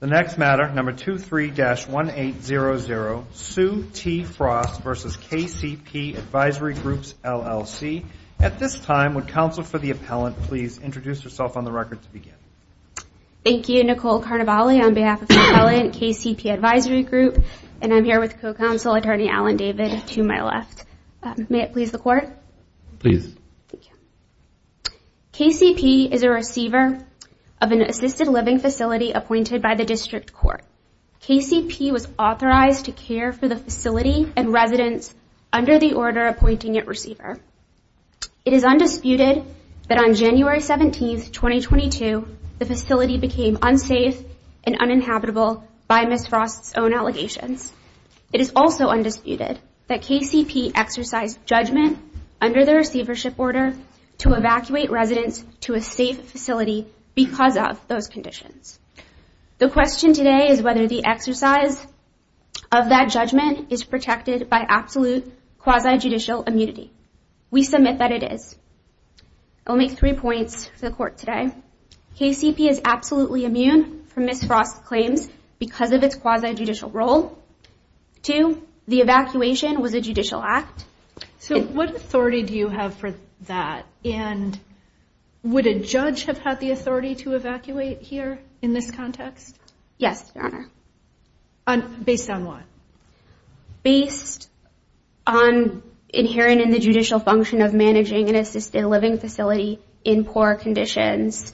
The next matter, number 23-1800, Sue T. Frost v. KCP Advisory Group, LLC. At this time, would counsel for the appellant please introduce herself on the record to begin? Thank you. Nicole Carnevale on behalf of the appellant, KCP Advisory Group, and I'm here with co-counsel, Attorney Alan David, to my left. May it please the Court? Please. KCP is a receiver of an assisted living facility appointed by the District Court. KCP was authorized to care for the facility and residents under the order appointing it receiver. It is undisputed that on January 17, 2022, the facility became unsafe and uninhabitable by Ms. Frost's own allegations. It is also undisputed that KCP exercised judgment under the receivership order to evacuate residents to a safe facility because of those conditions. The question today is whether the exercise of that judgment is protected by absolute quasi-judicial immunity. We submit that it is. I'll make three points to the Court today. One, KCP is absolutely immune from Ms. Frost's claims because of its quasi-judicial role. Two, the evacuation was a judicial act. So what authority do you have for that? And would a judge have had the authority to evacuate here in this context? Yes, Your Honor. Based on what? Based on adhering in the judicial function of managing an assisted living facility in poor conditions.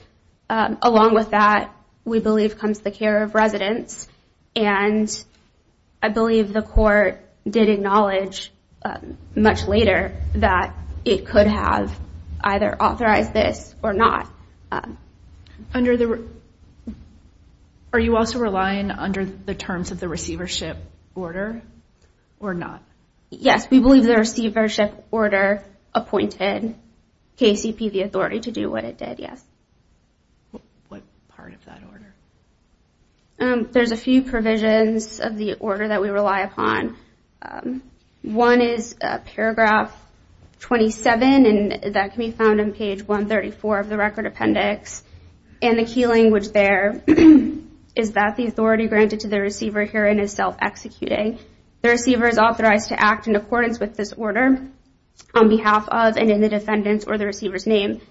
Along with that, we believe comes the care of residents. And I believe the Court did acknowledge much later that it could have either authorized this or not. Are you also relying under the terms of the receivership order or not? Yes, we believe the receivership order appointed KCP the authority to do what it did, yes. What part of that order? There's a few provisions of the order that we rely upon. One is paragraph 27, and that can be found on page 134 of the record appendix. And the key language there is that the authority granted to the receiver herein is self-executing. The receiver is authorized to act in accordance with this order on behalf of and in the defendant's or the receiver's name,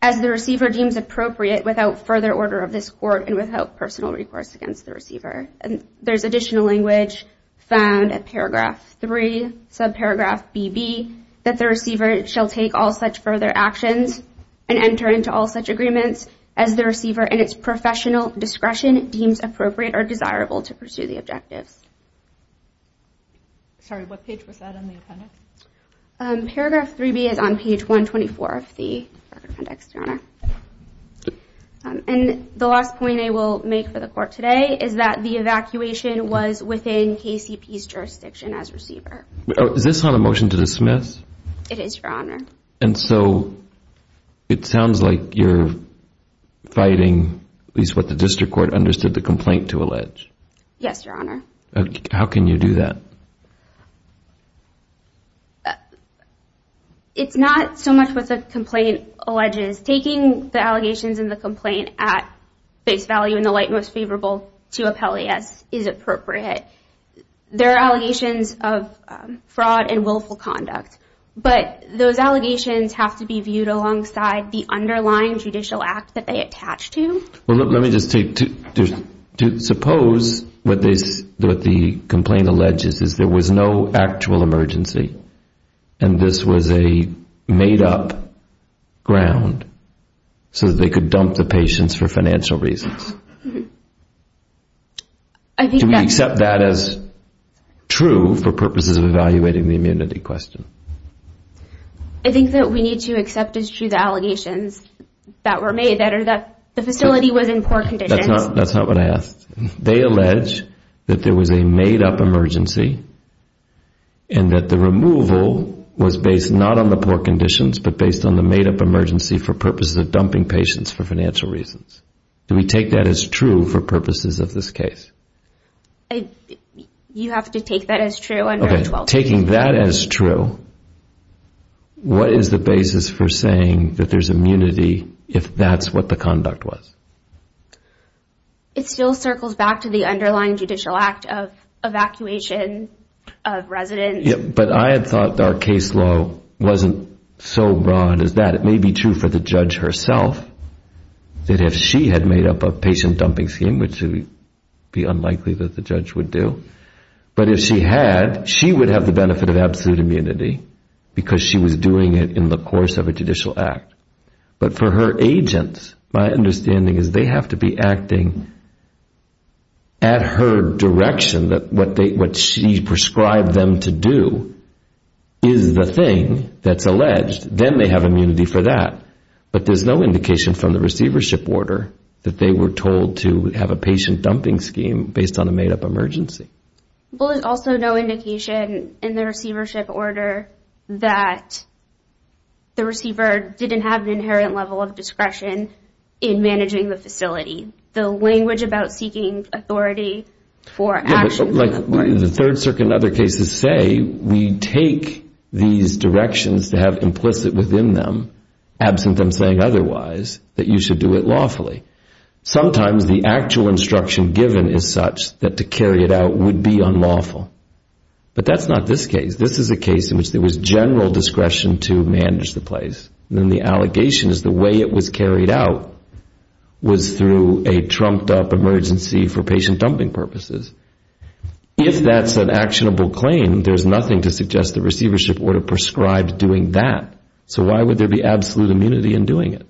as the receiver deems appropriate without further order of this Court and without personal recourse against the receiver. And there's additional language found at paragraph 3, subparagraph BB, that the receiver shall take all such further actions and enter into all such agreements as the receiver in its professional discretion deems appropriate or desirable to pursue the objectives. Sorry, what page was that on the appendix? Paragraph 3B is on page 124 of the record appendix, Your Honor. And the last point I will make for the Court today is that the evacuation was within KCP's jurisdiction as receiver. Is this on a motion to dismiss? It is, Your Honor. And so it sounds like you're fighting at least what the district court understood the complaint to allege. Yes, Your Honor. How can you do that? It's not so much what the complaint alleges. Taking the allegations in the complaint at face value in the light most favorable to appellee as is appropriate. There are allegations of fraud and willful conduct, but those allegations have to be viewed alongside the underlying judicial act that they attach to. Well, let me just take two. Suppose what the complaint alleges is there was no actual emergency and this was a made-up ground so that they could dump the patients for financial reasons. Do we accept that as true for purposes of evaluating the immunity question? I think that we need to accept as true the allegations that were made, that the facility was in poor condition. That's not what I asked. They allege that there was a made-up emergency and that the removal was based not on the poor conditions, but based on the made-up emergency for purposes of dumping patients for financial reasons. Do we take that as true for purposes of this case? You have to take that as true. Okay, taking that as true, what is the basis for saying that there's immunity if that's what the conduct was? It still circles back to the underlying judicial act of evacuation of residents. But I had thought our case law wasn't so broad as that. It may be true for the judge herself that if she had made up a patient dumping scheme, which would be unlikely that the judge would do, but if she had, she would have the benefit of absolute immunity because she was doing it in the course of a judicial act. But for her agents, my understanding is they have to be acting at her direction, that what she prescribed them to do is the thing that's alleged. Then they have immunity for that. But there's no indication from the receivership order that they were told to have a patient dumping scheme based on a made-up emergency. Well, there's also no indication in the receivership order that the receiver didn't have an inherent level of discretion in managing the facility. The language about seeking authority for action. Like the Third Circuit and other cases say, we take these directions to have implicit within them, absent them saying otherwise, that you should do it lawfully. Sometimes the actual instruction given is such that to carry it out would be unlawful. But that's not this case. This is a case in which there was general discretion to manage the place. Then the allegation is the way it was carried out was through a trumped-up emergency for patient dumping purposes. If that's an actionable claim, there's nothing to suggest the receivership order prescribed doing that. So why would there be absolute immunity in doing it?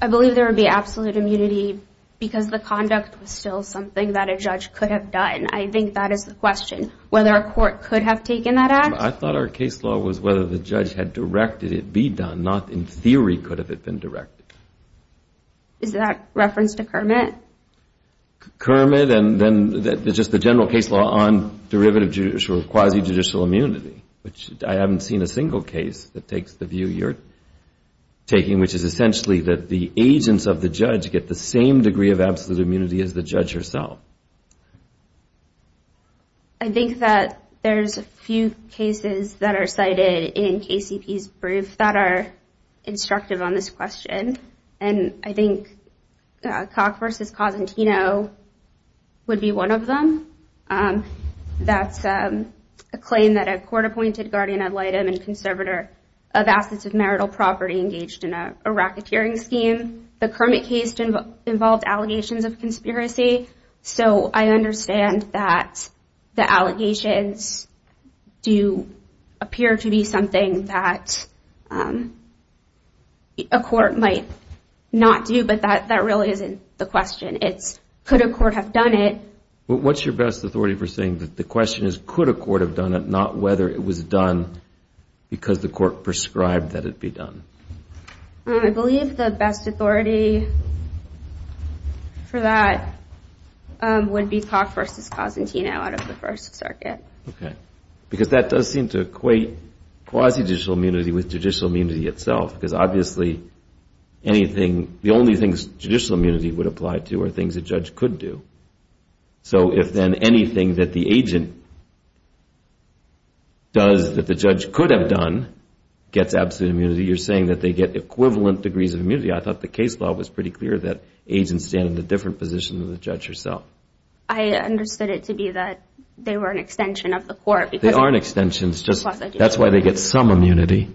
I believe there would be absolute immunity because the conduct was still something that a judge could have done. I think that is the question. Whether a court could have taken that action? I thought our case law was whether the judge had directed it be done, not in theory could have it been directed. Is that reference to Kermit? Kermit and then just the general case law on derivative judicial or quasi-judicial immunity, which I haven't seen a single case that takes the view you're taking, which is essentially that the agents of the judge get the same degree of absolute immunity as the judge herself. I think that there's a few cases that are cited in KCP's brief that are instructive on this question. And I think Cock v. Cosentino would be one of them. That's a claim that a court-appointed guardian ad litem and conservator of assets of marital property engaged in a racketeering scheme. The Kermit case involved allegations of conspiracy. So I understand that the allegations do appear to be something that a court might not do, but that really isn't the question. It's could a court have done it? What's your best authority for saying that the question is could a court have done it, not whether it was done because the court prescribed that it be done? I believe the best authority for that would be Cock v. Cosentino out of the First Circuit. Okay. Because that does seem to equate quasi-judicial immunity with judicial immunity itself, because obviously the only things judicial immunity would apply to are things a judge could do. So if then anything that the agent does that the judge could have done gets absolute immunity, you're saying that they get equivalent degrees of immunity. I thought the case law was pretty clear that agents stand in a different position than the judge herself. I understood it to be that they were an extension of the court. They are an extension. That's why they get some immunity.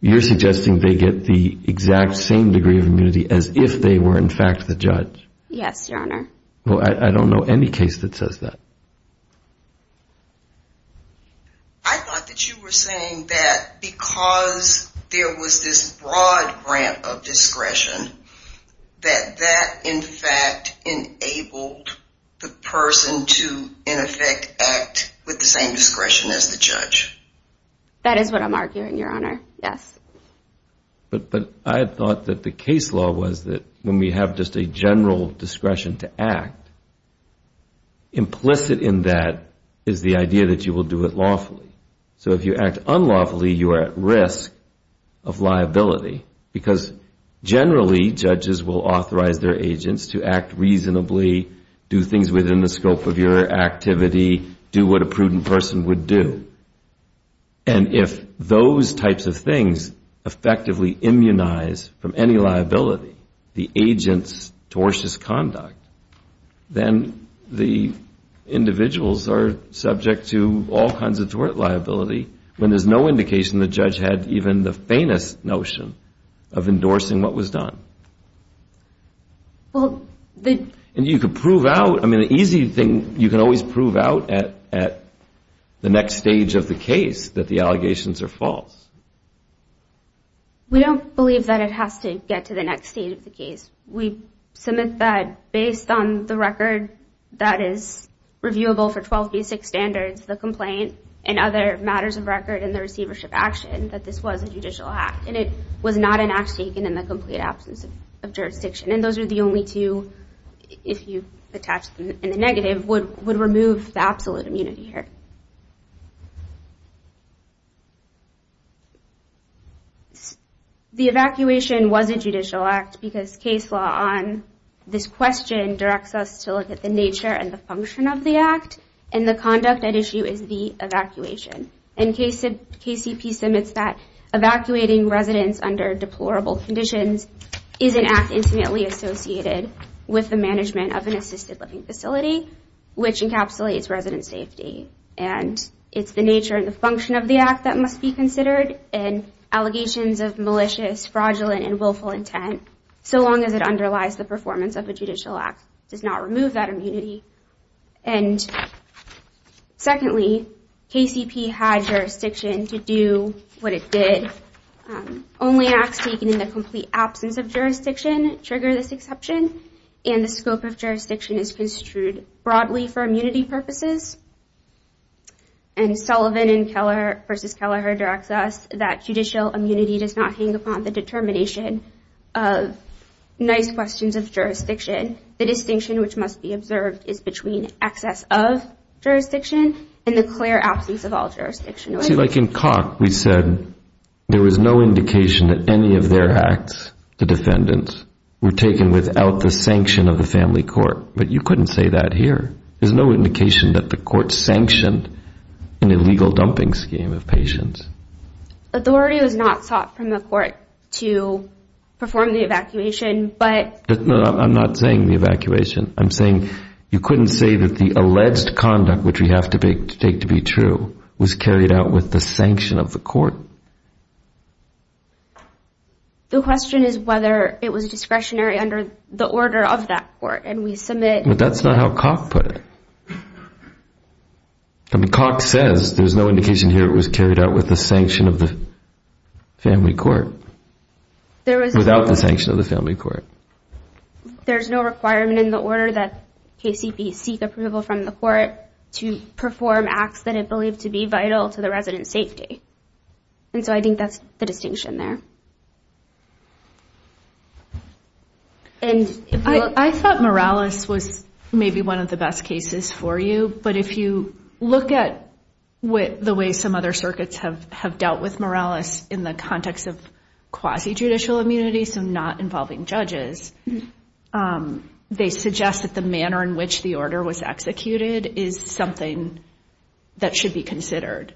You're suggesting they get the exact same degree of immunity as if they were in fact the judge? Yes, Your Honor. I don't know any case that says that. I thought that you were saying that because there was this broad grant of discretion that that in fact enabled the person to in effect act with the same discretion as the judge. That is what I'm arguing, Your Honor, yes. But I thought that the case law was that when we have just a general discretion to act, implicit in that is the idea that you will do it lawfully. So if you act unlawfully, you are at risk of liability, because generally judges will authorize their agents to act reasonably, do things within the scope of your activity, do what a prudent person would do. And if those types of things effectively immunize from any liability, the agent's tortious conduct, then the individuals are subject to all kinds of tort liability when there's no indication the judge had even the faintest notion of endorsing what was done. And you can prove out, I mean, the easy thing, you can always prove out at the next stage of the case that the allegations are false. We don't believe that it has to get to the next stage of the case. We submit that based on the record that is reviewable for 12B6 standards, the complaint, and other matters of record in the receivership action, that this was a judicial act, and it was not an act taken in the complete absence of jurisdiction. And those are the only two, if you attach them in the negative, would remove the absolute immunity here. The evacuation was a judicial act, because case law on this question directs us to look at the nature and the function of the act, and the conduct at issue is the evacuation. And KCP submits that evacuating residents under deplorable conditions is an act intimately associated with the management of an assisted living facility, which encapsulates resident safety. And it's the nature and the function of the act that must be considered, and allegations of malicious, fraudulent, and willful intent, so long as it underlies the performance of a judicial act, does not remove that immunity. And secondly, KCP had jurisdiction to do what it did. Only acts taken in the complete absence of jurisdiction trigger this exception, and the scope of jurisdiction is construed broadly for immunity purposes. And Sullivan v. Kelleher directs us that judicial immunity does not hang upon the determination of nice questions of jurisdiction. The distinction which must be observed is between excess of jurisdiction and the clear absence of all jurisdiction. See, like in Koch, we said there was no indication that any of their acts, the defendants, were taken without the sanction of the family court. But you couldn't say that here. There's no indication that the court sanctioned an illegal dumping scheme of patients. Authority was not sought from the court to perform the evacuation, but No, I'm not saying the evacuation. I'm saying you couldn't say that the alleged conduct, which we have to take to be true, was carried out with the sanction of the court. The question is whether it was discretionary under the order of that court, and we submit But that's not how Koch put it. I mean, Koch says there's no indication here it was carried out with the sanction of the family court. Without the sanction of the family court. There's no requirement in the order that KCP seek approval from the court to perform acts that it believed to be vital to the resident's safety. And so I think that's the distinction there. I thought Morales was maybe one of the best cases for you, but if you look at the way some other circuits have dealt with Morales in the context of quasi-judicial immunity, so not involving judges, they suggest that the manner in which the order was executed is something that should be considered.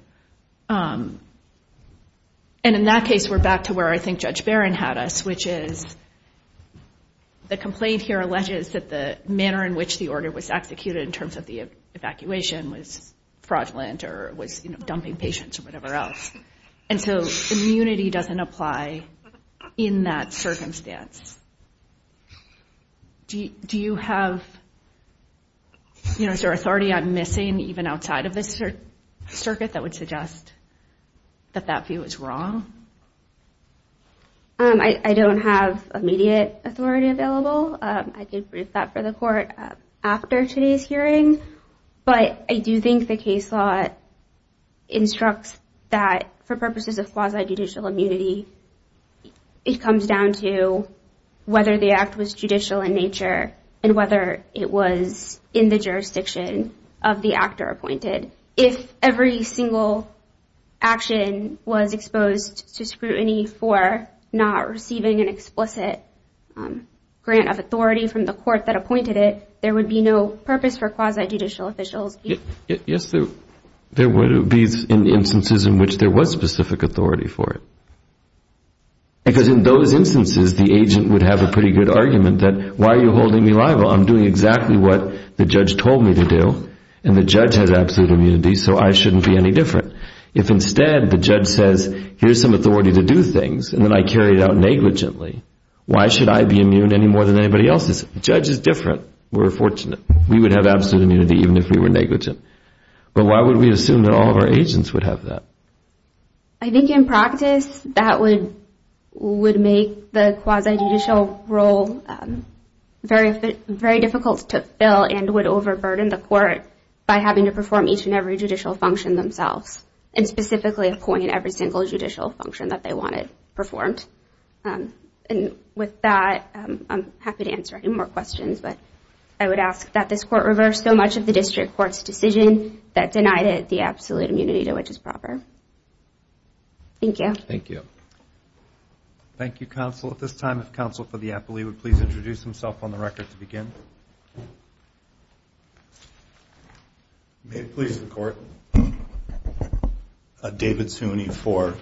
And in that case, we're back to where I think Judge Barron had us, which is the complaint here alleges that the manner in which the order was executed in terms of the evacuation was fraudulent or was dumping patients or whatever else. And so immunity doesn't apply in that circumstance. Do you have, you know, is there authority I'm missing even outside of this circuit that would suggest that that view is wrong? I don't have immediate authority available. I did brief that for the court after today's hearing. But I do think the case law instructs that for purposes of quasi-judicial immunity, it comes down to whether the act was judicial in nature and whether it was in the jurisdiction of the actor appointed. If every single action was exposed to scrutiny for not receiving an explicit grant of authority from the court that appointed it, there would be no purpose for quasi-judicial officials. Yes, there would be instances in which there was specific authority for it. Because in those instances, the agent would have a pretty good argument that, why are you holding me liable? I'm doing exactly what the judge told me to do, and the judge has absolute immunity, so I shouldn't be any different. If instead the judge says, here's some authority to do things, and then I carry it out negligently, why should I be immune any more than anybody else is? The judge is different. We're fortunate. We would have absolute immunity even if we were negligent. But why would we assume that all of our agents would have that? I think in practice that would make the quasi-judicial role very difficult to fill and would overburden the court by having to perform each and every judicial function themselves, and specifically appoint every single judicial function that they wanted performed. And with that, I'm happy to answer any more questions, but I would ask that this court reverse so much of the district court's decision that denied it the absolute immunity to which is proper. Thank you. Thank you. Thank you, counsel. At this time, if counsel for the appellee would please introduce himself on the record to begin. May it please the court. David Suny for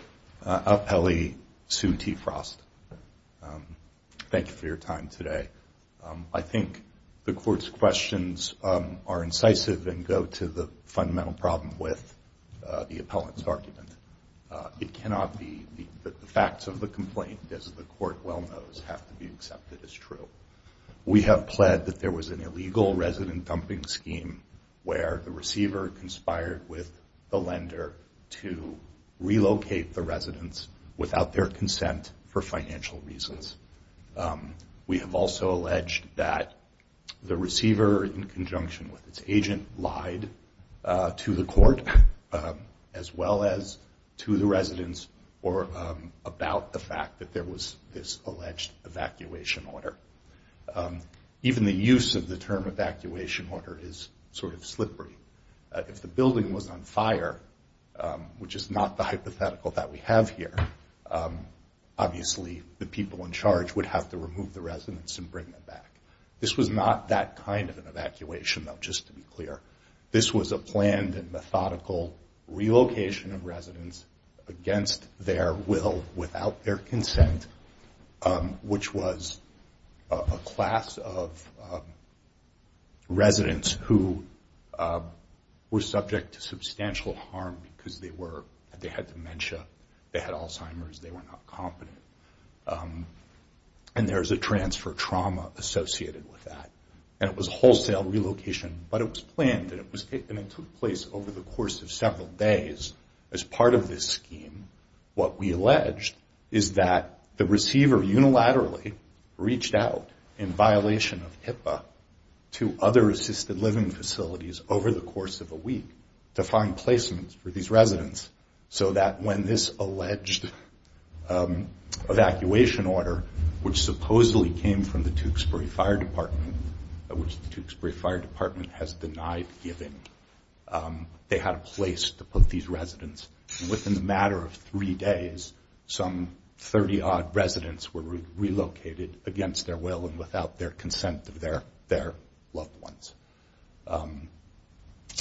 appellee Sue T. Frost. Thank you for your time today. I think the court's questions are incisive and go to the fundamental problem with the appellant's argument. It cannot be that the facts of the complaint, as the court well knows, have to be accepted as true. We have pled that there was an illegal resident dumping scheme where the receiver conspired with the lender to relocate the residents without their consent for financial reasons. We have also alleged that the receiver, in conjunction with its agent, lied to the court, as well as to the residents, or about the fact that there was this alleged evacuation order. Even the use of the term evacuation order is sort of slippery. If the building was on fire, which is not the hypothetical that we have here, obviously the people in charge would have to remove the residents and bring them back. This was not that kind of an evacuation, though, just to be clear. This was a planned and methodical relocation of residents against their will, without their consent, which was a class of residents who were subject to substantial harm because they had dementia, they had Alzheimer's, they were not competent. And there is a transfer trauma associated with that. And it was a wholesale relocation, but it was planned and it took place over the course of several days. As part of this scheme, what we alleged is that the receiver unilaterally reached out, in violation of HIPAA, to other assisted living facilities over the course of a week to find placements for these residents, so that when this alleged evacuation order, which supposedly came from the Tewksbury Fire Department, which the Tewksbury Fire Department has denied giving, they had a place to put these residents. And within the matter of three days, some 30-odd residents were relocated against their will and without their consent of their loved ones.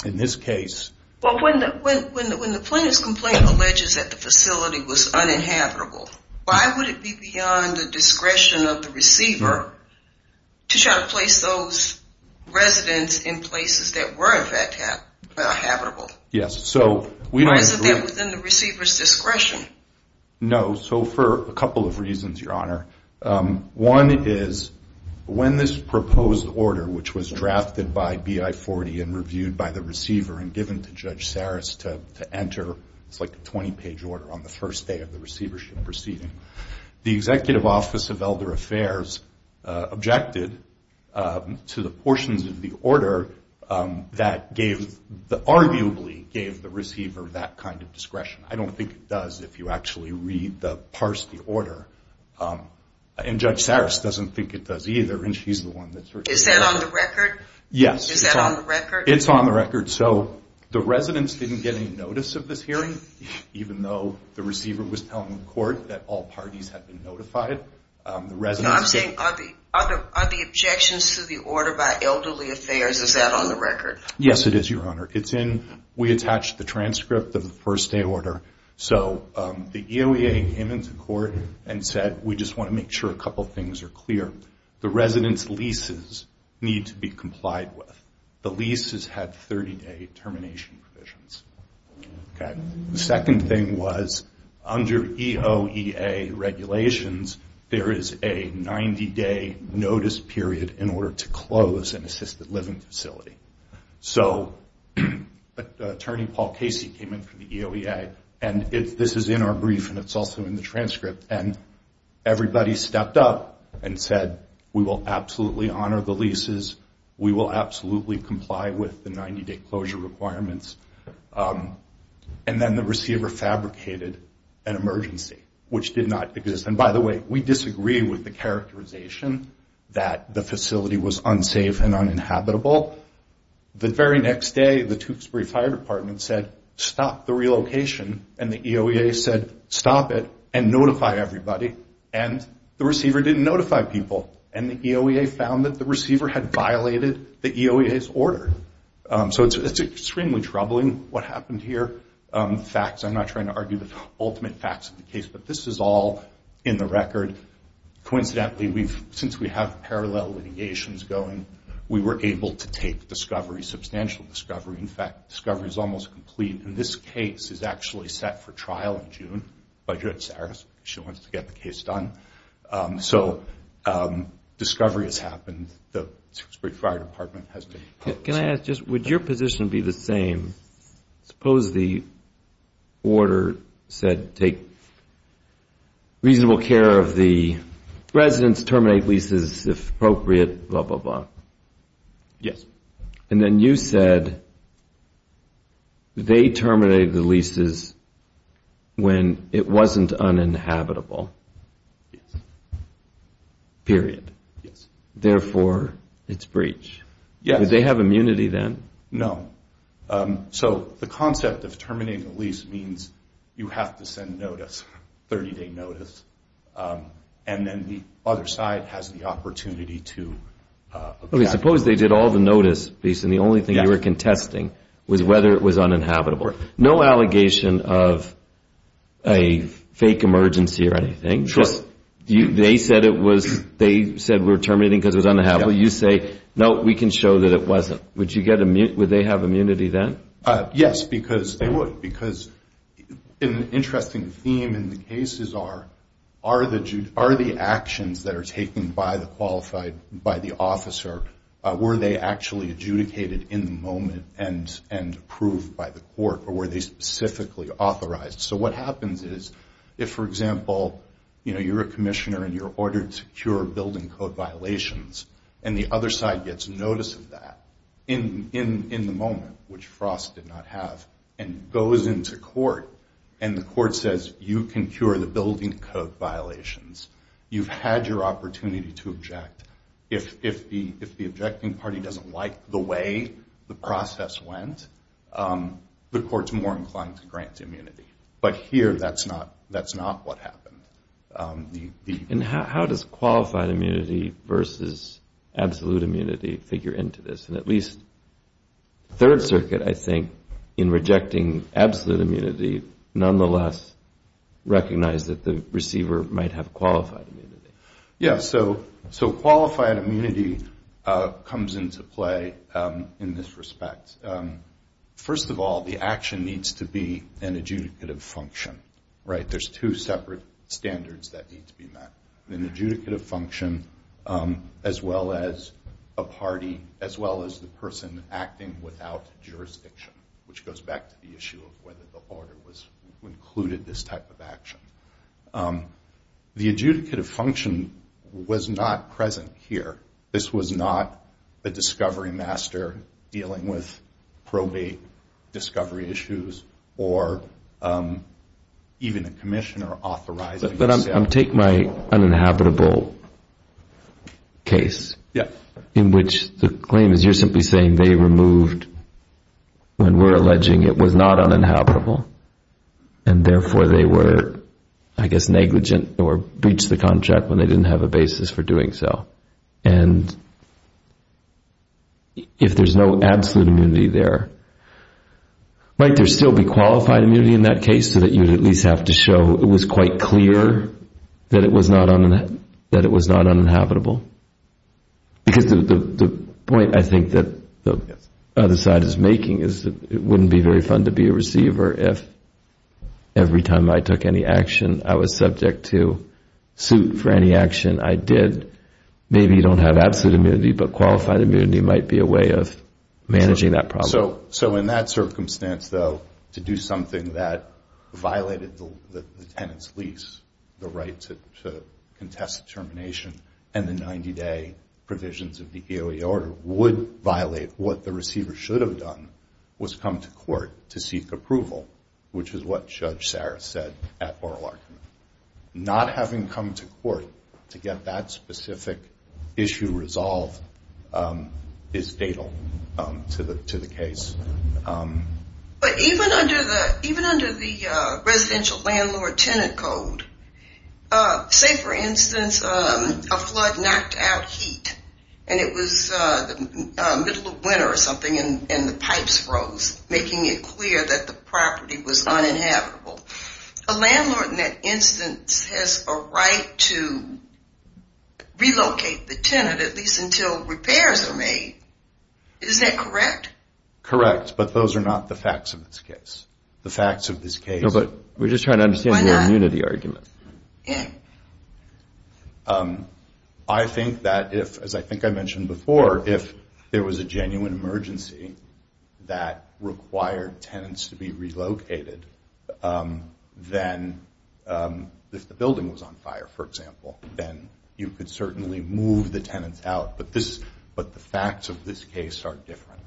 In this case... of the receiver to try to place those residents in places that were in fact habitable. Yes, so... Or isn't that within the receiver's discretion? No, so for a couple of reasons, Your Honor. One is, when this proposed order, which was drafted by BI40 and reviewed by the receiver and given to Judge Saris to enter, it's like a 20-page order on the first day of the receivership proceeding, the Executive Office of Elder Affairs objected to the portions of the order that arguably gave the receiver that kind of discretion. I don't think it does, if you actually read the, parse the order. And Judge Saris doesn't think it does either, and she's the one that... Is that on the record? Yes. Is that on the record? It's on the record. So the residents didn't get any notice of this hearing, even though the receiver was telling the court that all parties had been notified. The residents... No, I'm saying, are the objections to the order by Elderly Affairs, is that on the record? Yes, it is, Your Honor. It's in... We attached the transcript of the first day order. So the EOEA came into court and said, we just want to make sure a couple of things are clear. The residents' leases need to be complied with. The leases had 30-day termination provisions. The second thing was, under EOEA regulations, there is a 90-day notice period in order to close an assisted living facility. So Attorney Paul Casey came in from the EOEA, and this is in our brief and it's also in the transcript, and everybody stepped up and said, we will absolutely honor the leases, we will absolutely comply with the 90-day closure requirements. And then the receiver fabricated an emergency, which did not exist. And by the way, we disagreed with the characterization that the facility was unsafe and uninhabitable. The very next day, the Tewksbury Fire Department said, stop the relocation, and the EOEA said, stop it and notify everybody, and the receiver didn't notify people. And the EOEA found that the receiver had violated the EOEA's order. So it's extremely troubling what happened here. Facts, I'm not trying to argue the ultimate facts of the case, but this is all in the record. Coincidentally, since we have parallel litigations going, we were able to take discovery, substantial discovery. In fact, discovery is almost complete, and this case is actually set for trial in June. She wants to get the case done. So discovery has happened. The Tewksbury Fire Department has taken public responsibility. Can I ask, would your position be the same? Suppose the order said take reasonable care of the residents, terminate leases if appropriate, blah, blah, blah. Yes. And then you said they terminated the leases when it wasn't uninhabitable. Yes. Period. Yes. Therefore, it's breach. Yes. Did they have immunity then? No. So the concept of terminating the lease means you have to send notice, 30-day notice, and then the other side has the opportunity to attack. Okay. Suppose they did all the notice, and the only thing you were contesting was whether it was uninhabitable. No allegation of a fake emergency or anything. Sure. They said we were terminating because it was uninhabitable. You say, no, we can show that it wasn't. Would they have immunity then? Yes, because they would. Because an interesting theme in the cases are, are the actions that are taken by the officer, were they actually adjudicated in the moment and approved by the court, or were they specifically authorized? So what happens is if, for example, you're a commissioner and you're ordered to cure building code violations, and the other side gets notice of that in the moment, which Frost did not have, and goes into court, and the court says you can cure the building code violations, you've had your opportunity to object. If the objecting party doesn't like the way the process went, the court's more inclined to grant immunity. But here that's not what happened. And how does qualified immunity versus absolute immunity figure into this? And at least Third Circuit, I think, in rejecting absolute immunity, nonetheless recognized that the receiver might have qualified immunity. Yes, so qualified immunity comes into play in this respect. First of all, the action needs to be an adjudicative function. There's two separate standards that need to be met. An adjudicative function, as well as a party, as well as the person acting without jurisdiction, which goes back to the issue of whether the order included this type of action. The adjudicative function was not present here. This was not a discovery master dealing with probate discovery issues or even a commissioner authorizing this. But take my uninhabitable case, in which the claim is you're simply saying they removed, when we're alleging it was not uninhabitable, and therefore they were, I guess, negligent or breached the contract when they didn't have a basis for doing so. And if there's no absolute immunity there, might there still be qualified immunity in that case just so that you would at least have to show it was quite clear that it was not uninhabitable? Because the point I think that the other side is making is that it wouldn't be very fun to be a receiver if every time I took any action I was subject to suit for any action I did. Maybe you don't have absolute immunity, but qualified immunity might be a way of managing that problem. So in that circumstance, though, to do something that violated the tenant's lease, the right to contest termination, and the 90-day provisions of the AOA order would violate what the receiver should have done, was come to court to seek approval, which is what Judge Saris said at oral argument. Not having come to court to get that specific issue resolved is fatal to the case. But even under the Residential Landlord Tenant Code, say for instance a flood knocked out heat and it was the middle of winter or something and the pipes froze, making it clear that the property was uninhabitable. But at least until repairs are made, isn't that correct? Correct, but those are not the facts of this case. The facts of this case... No, but we're just trying to understand your immunity argument. Yeah. I think that if, as I think I mentioned before, if there was a genuine emergency that required tenants to be relocated, then if the building was on fire, for example, then you could certainly move the tenants out. But the facts of this case are different,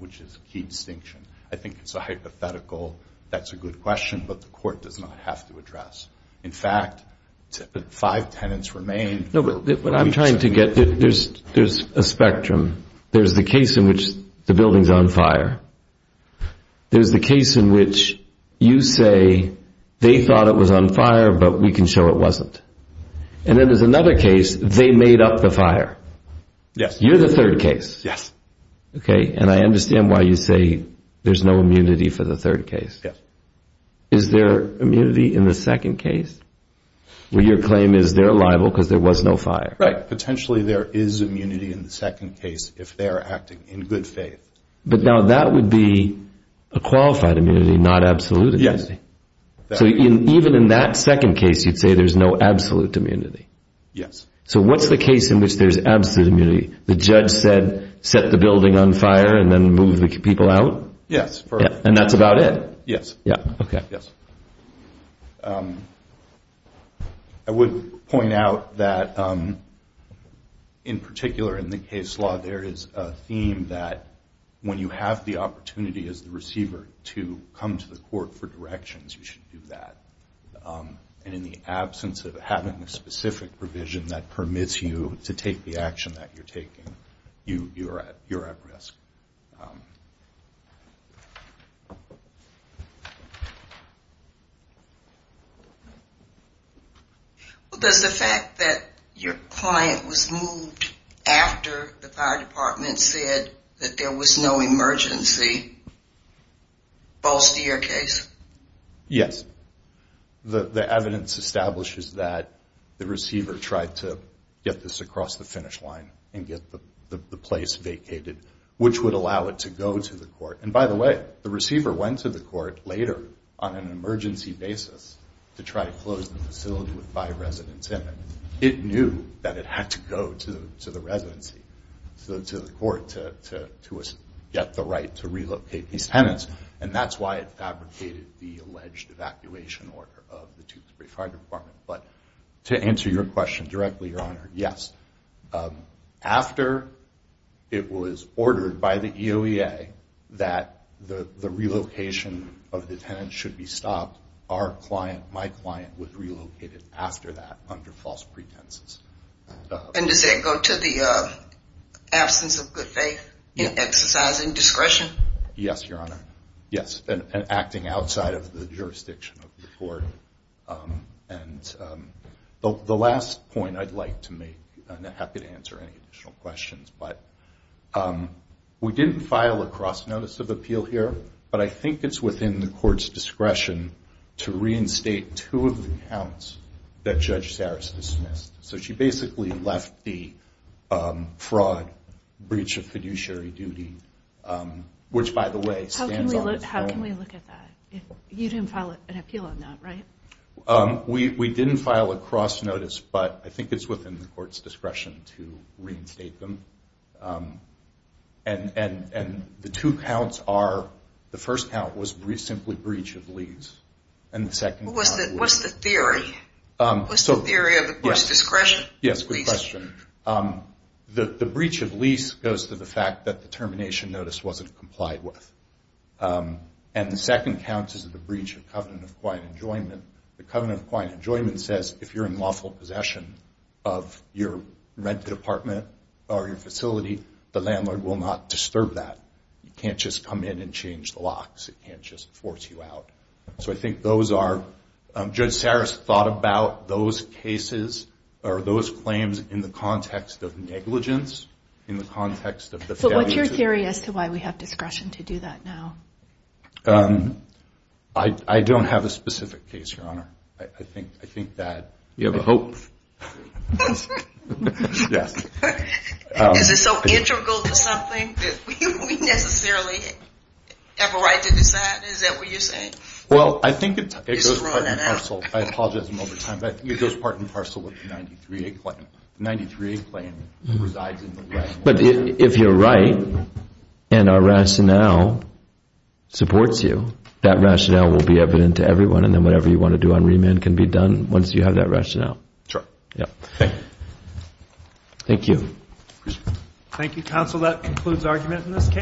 which is a key distinction. I think it's a hypothetical. That's a good question, but the court does not have to address. In fact, five tenants remain... No, but what I'm trying to get... There's a spectrum. There's the case in which the building's on fire. There's the case in which you say, they thought it was on fire, but we can show it wasn't. And then there's another case, they made up the fire. Yes. You're the third case. Yes. Okay, and I understand why you say there's no immunity for the third case. Yes. Is there immunity in the second case where your claim is they're liable because there was no fire? Right. Potentially there is immunity in the second case if they're acting in good faith. But now that would be a qualified immunity, not absolute immunity. Yes. So even in that second case, you'd say there's no absolute immunity. Yes. So what's the case in which there's absolute immunity? The judge said, set the building on fire and then move the people out? Yes. And that's about it? Yes. Okay. Yes. I would point out that in particular in the case law, there is a theme that when you have the opportunity as the receiver to come to the court for directions, you should do that. And in the absence of having a specific provision that permits you to take the action that you're taking, you're at risk. Does the fact that your client was moved after the fire department said that there was no emergency bolster your case? Yes. The evidence establishes that the receiver tried to get this across the finish line and get the place vacated, which would allow it to go to the court. And by the way, the receiver went to the court later on an emergency basis to try to close the facility with five residents in it. It knew that it had to go to the residency, to the court to get the right to relocate these tenants. And that's why it fabricated the alleged evacuation order of the Tewksbury Fire Department. But to answer your question directly, Your Honor, yes. After it was ordered by the EOEA that the relocation of the tenants should be stopped, our client, my client, was relocated after that under false pretenses. And does that go to the absence of good faith in exercising discretion? Yes, Your Honor. Yes. And acting outside of the jurisdiction of the court. And the last point I'd like to make, and I'm happy to answer any additional questions, but we didn't file a cross-notice of appeal here, but I think it's within the court's discretion to reinstate two of the counts that Judge Saris dismissed. So she basically left the fraud breach of fiduciary duty, which, by the way, stands on its own. How can we look at that? You didn't file an appeal on that, right? We didn't file a cross-notice, but I think it's within the court's discretion to reinstate them. And the two counts are, the first count was simply breach of lease. What's the theory? What's the theory of abuse discretion? Yes, good question. The breach of lease goes to the fact that the termination notice wasn't complied with. And the second count is the breach of covenant of quiet enjoyment. The covenant of quiet enjoyment says, if you're in lawful possession of your rented apartment or your facility, the landlord will not disturb that. You can't just come in and change the locks. It can't just force you out. So I think those are, Judge Saris thought about those cases or those claims in the context of negligence, in the context of the fact that... But what's your theory as to why we have discretion to do that now? I don't have a specific case, Your Honor. I think that... You have a hope. Yes. Is it so integral to something that we necessarily have a right to decide? Is that what you're saying? Well, I think it goes part and parcel. I apologize in overtime, but I think it goes part and parcel with the 93A claim. The 93A claim resides in the... But if you're right and our rationale supports you, that rationale will be evident to everyone, and then whatever you want to do on remand can be done once you have that rationale. Sure. Thank you. Thank you, counsel. Counsel, that concludes argument in this case.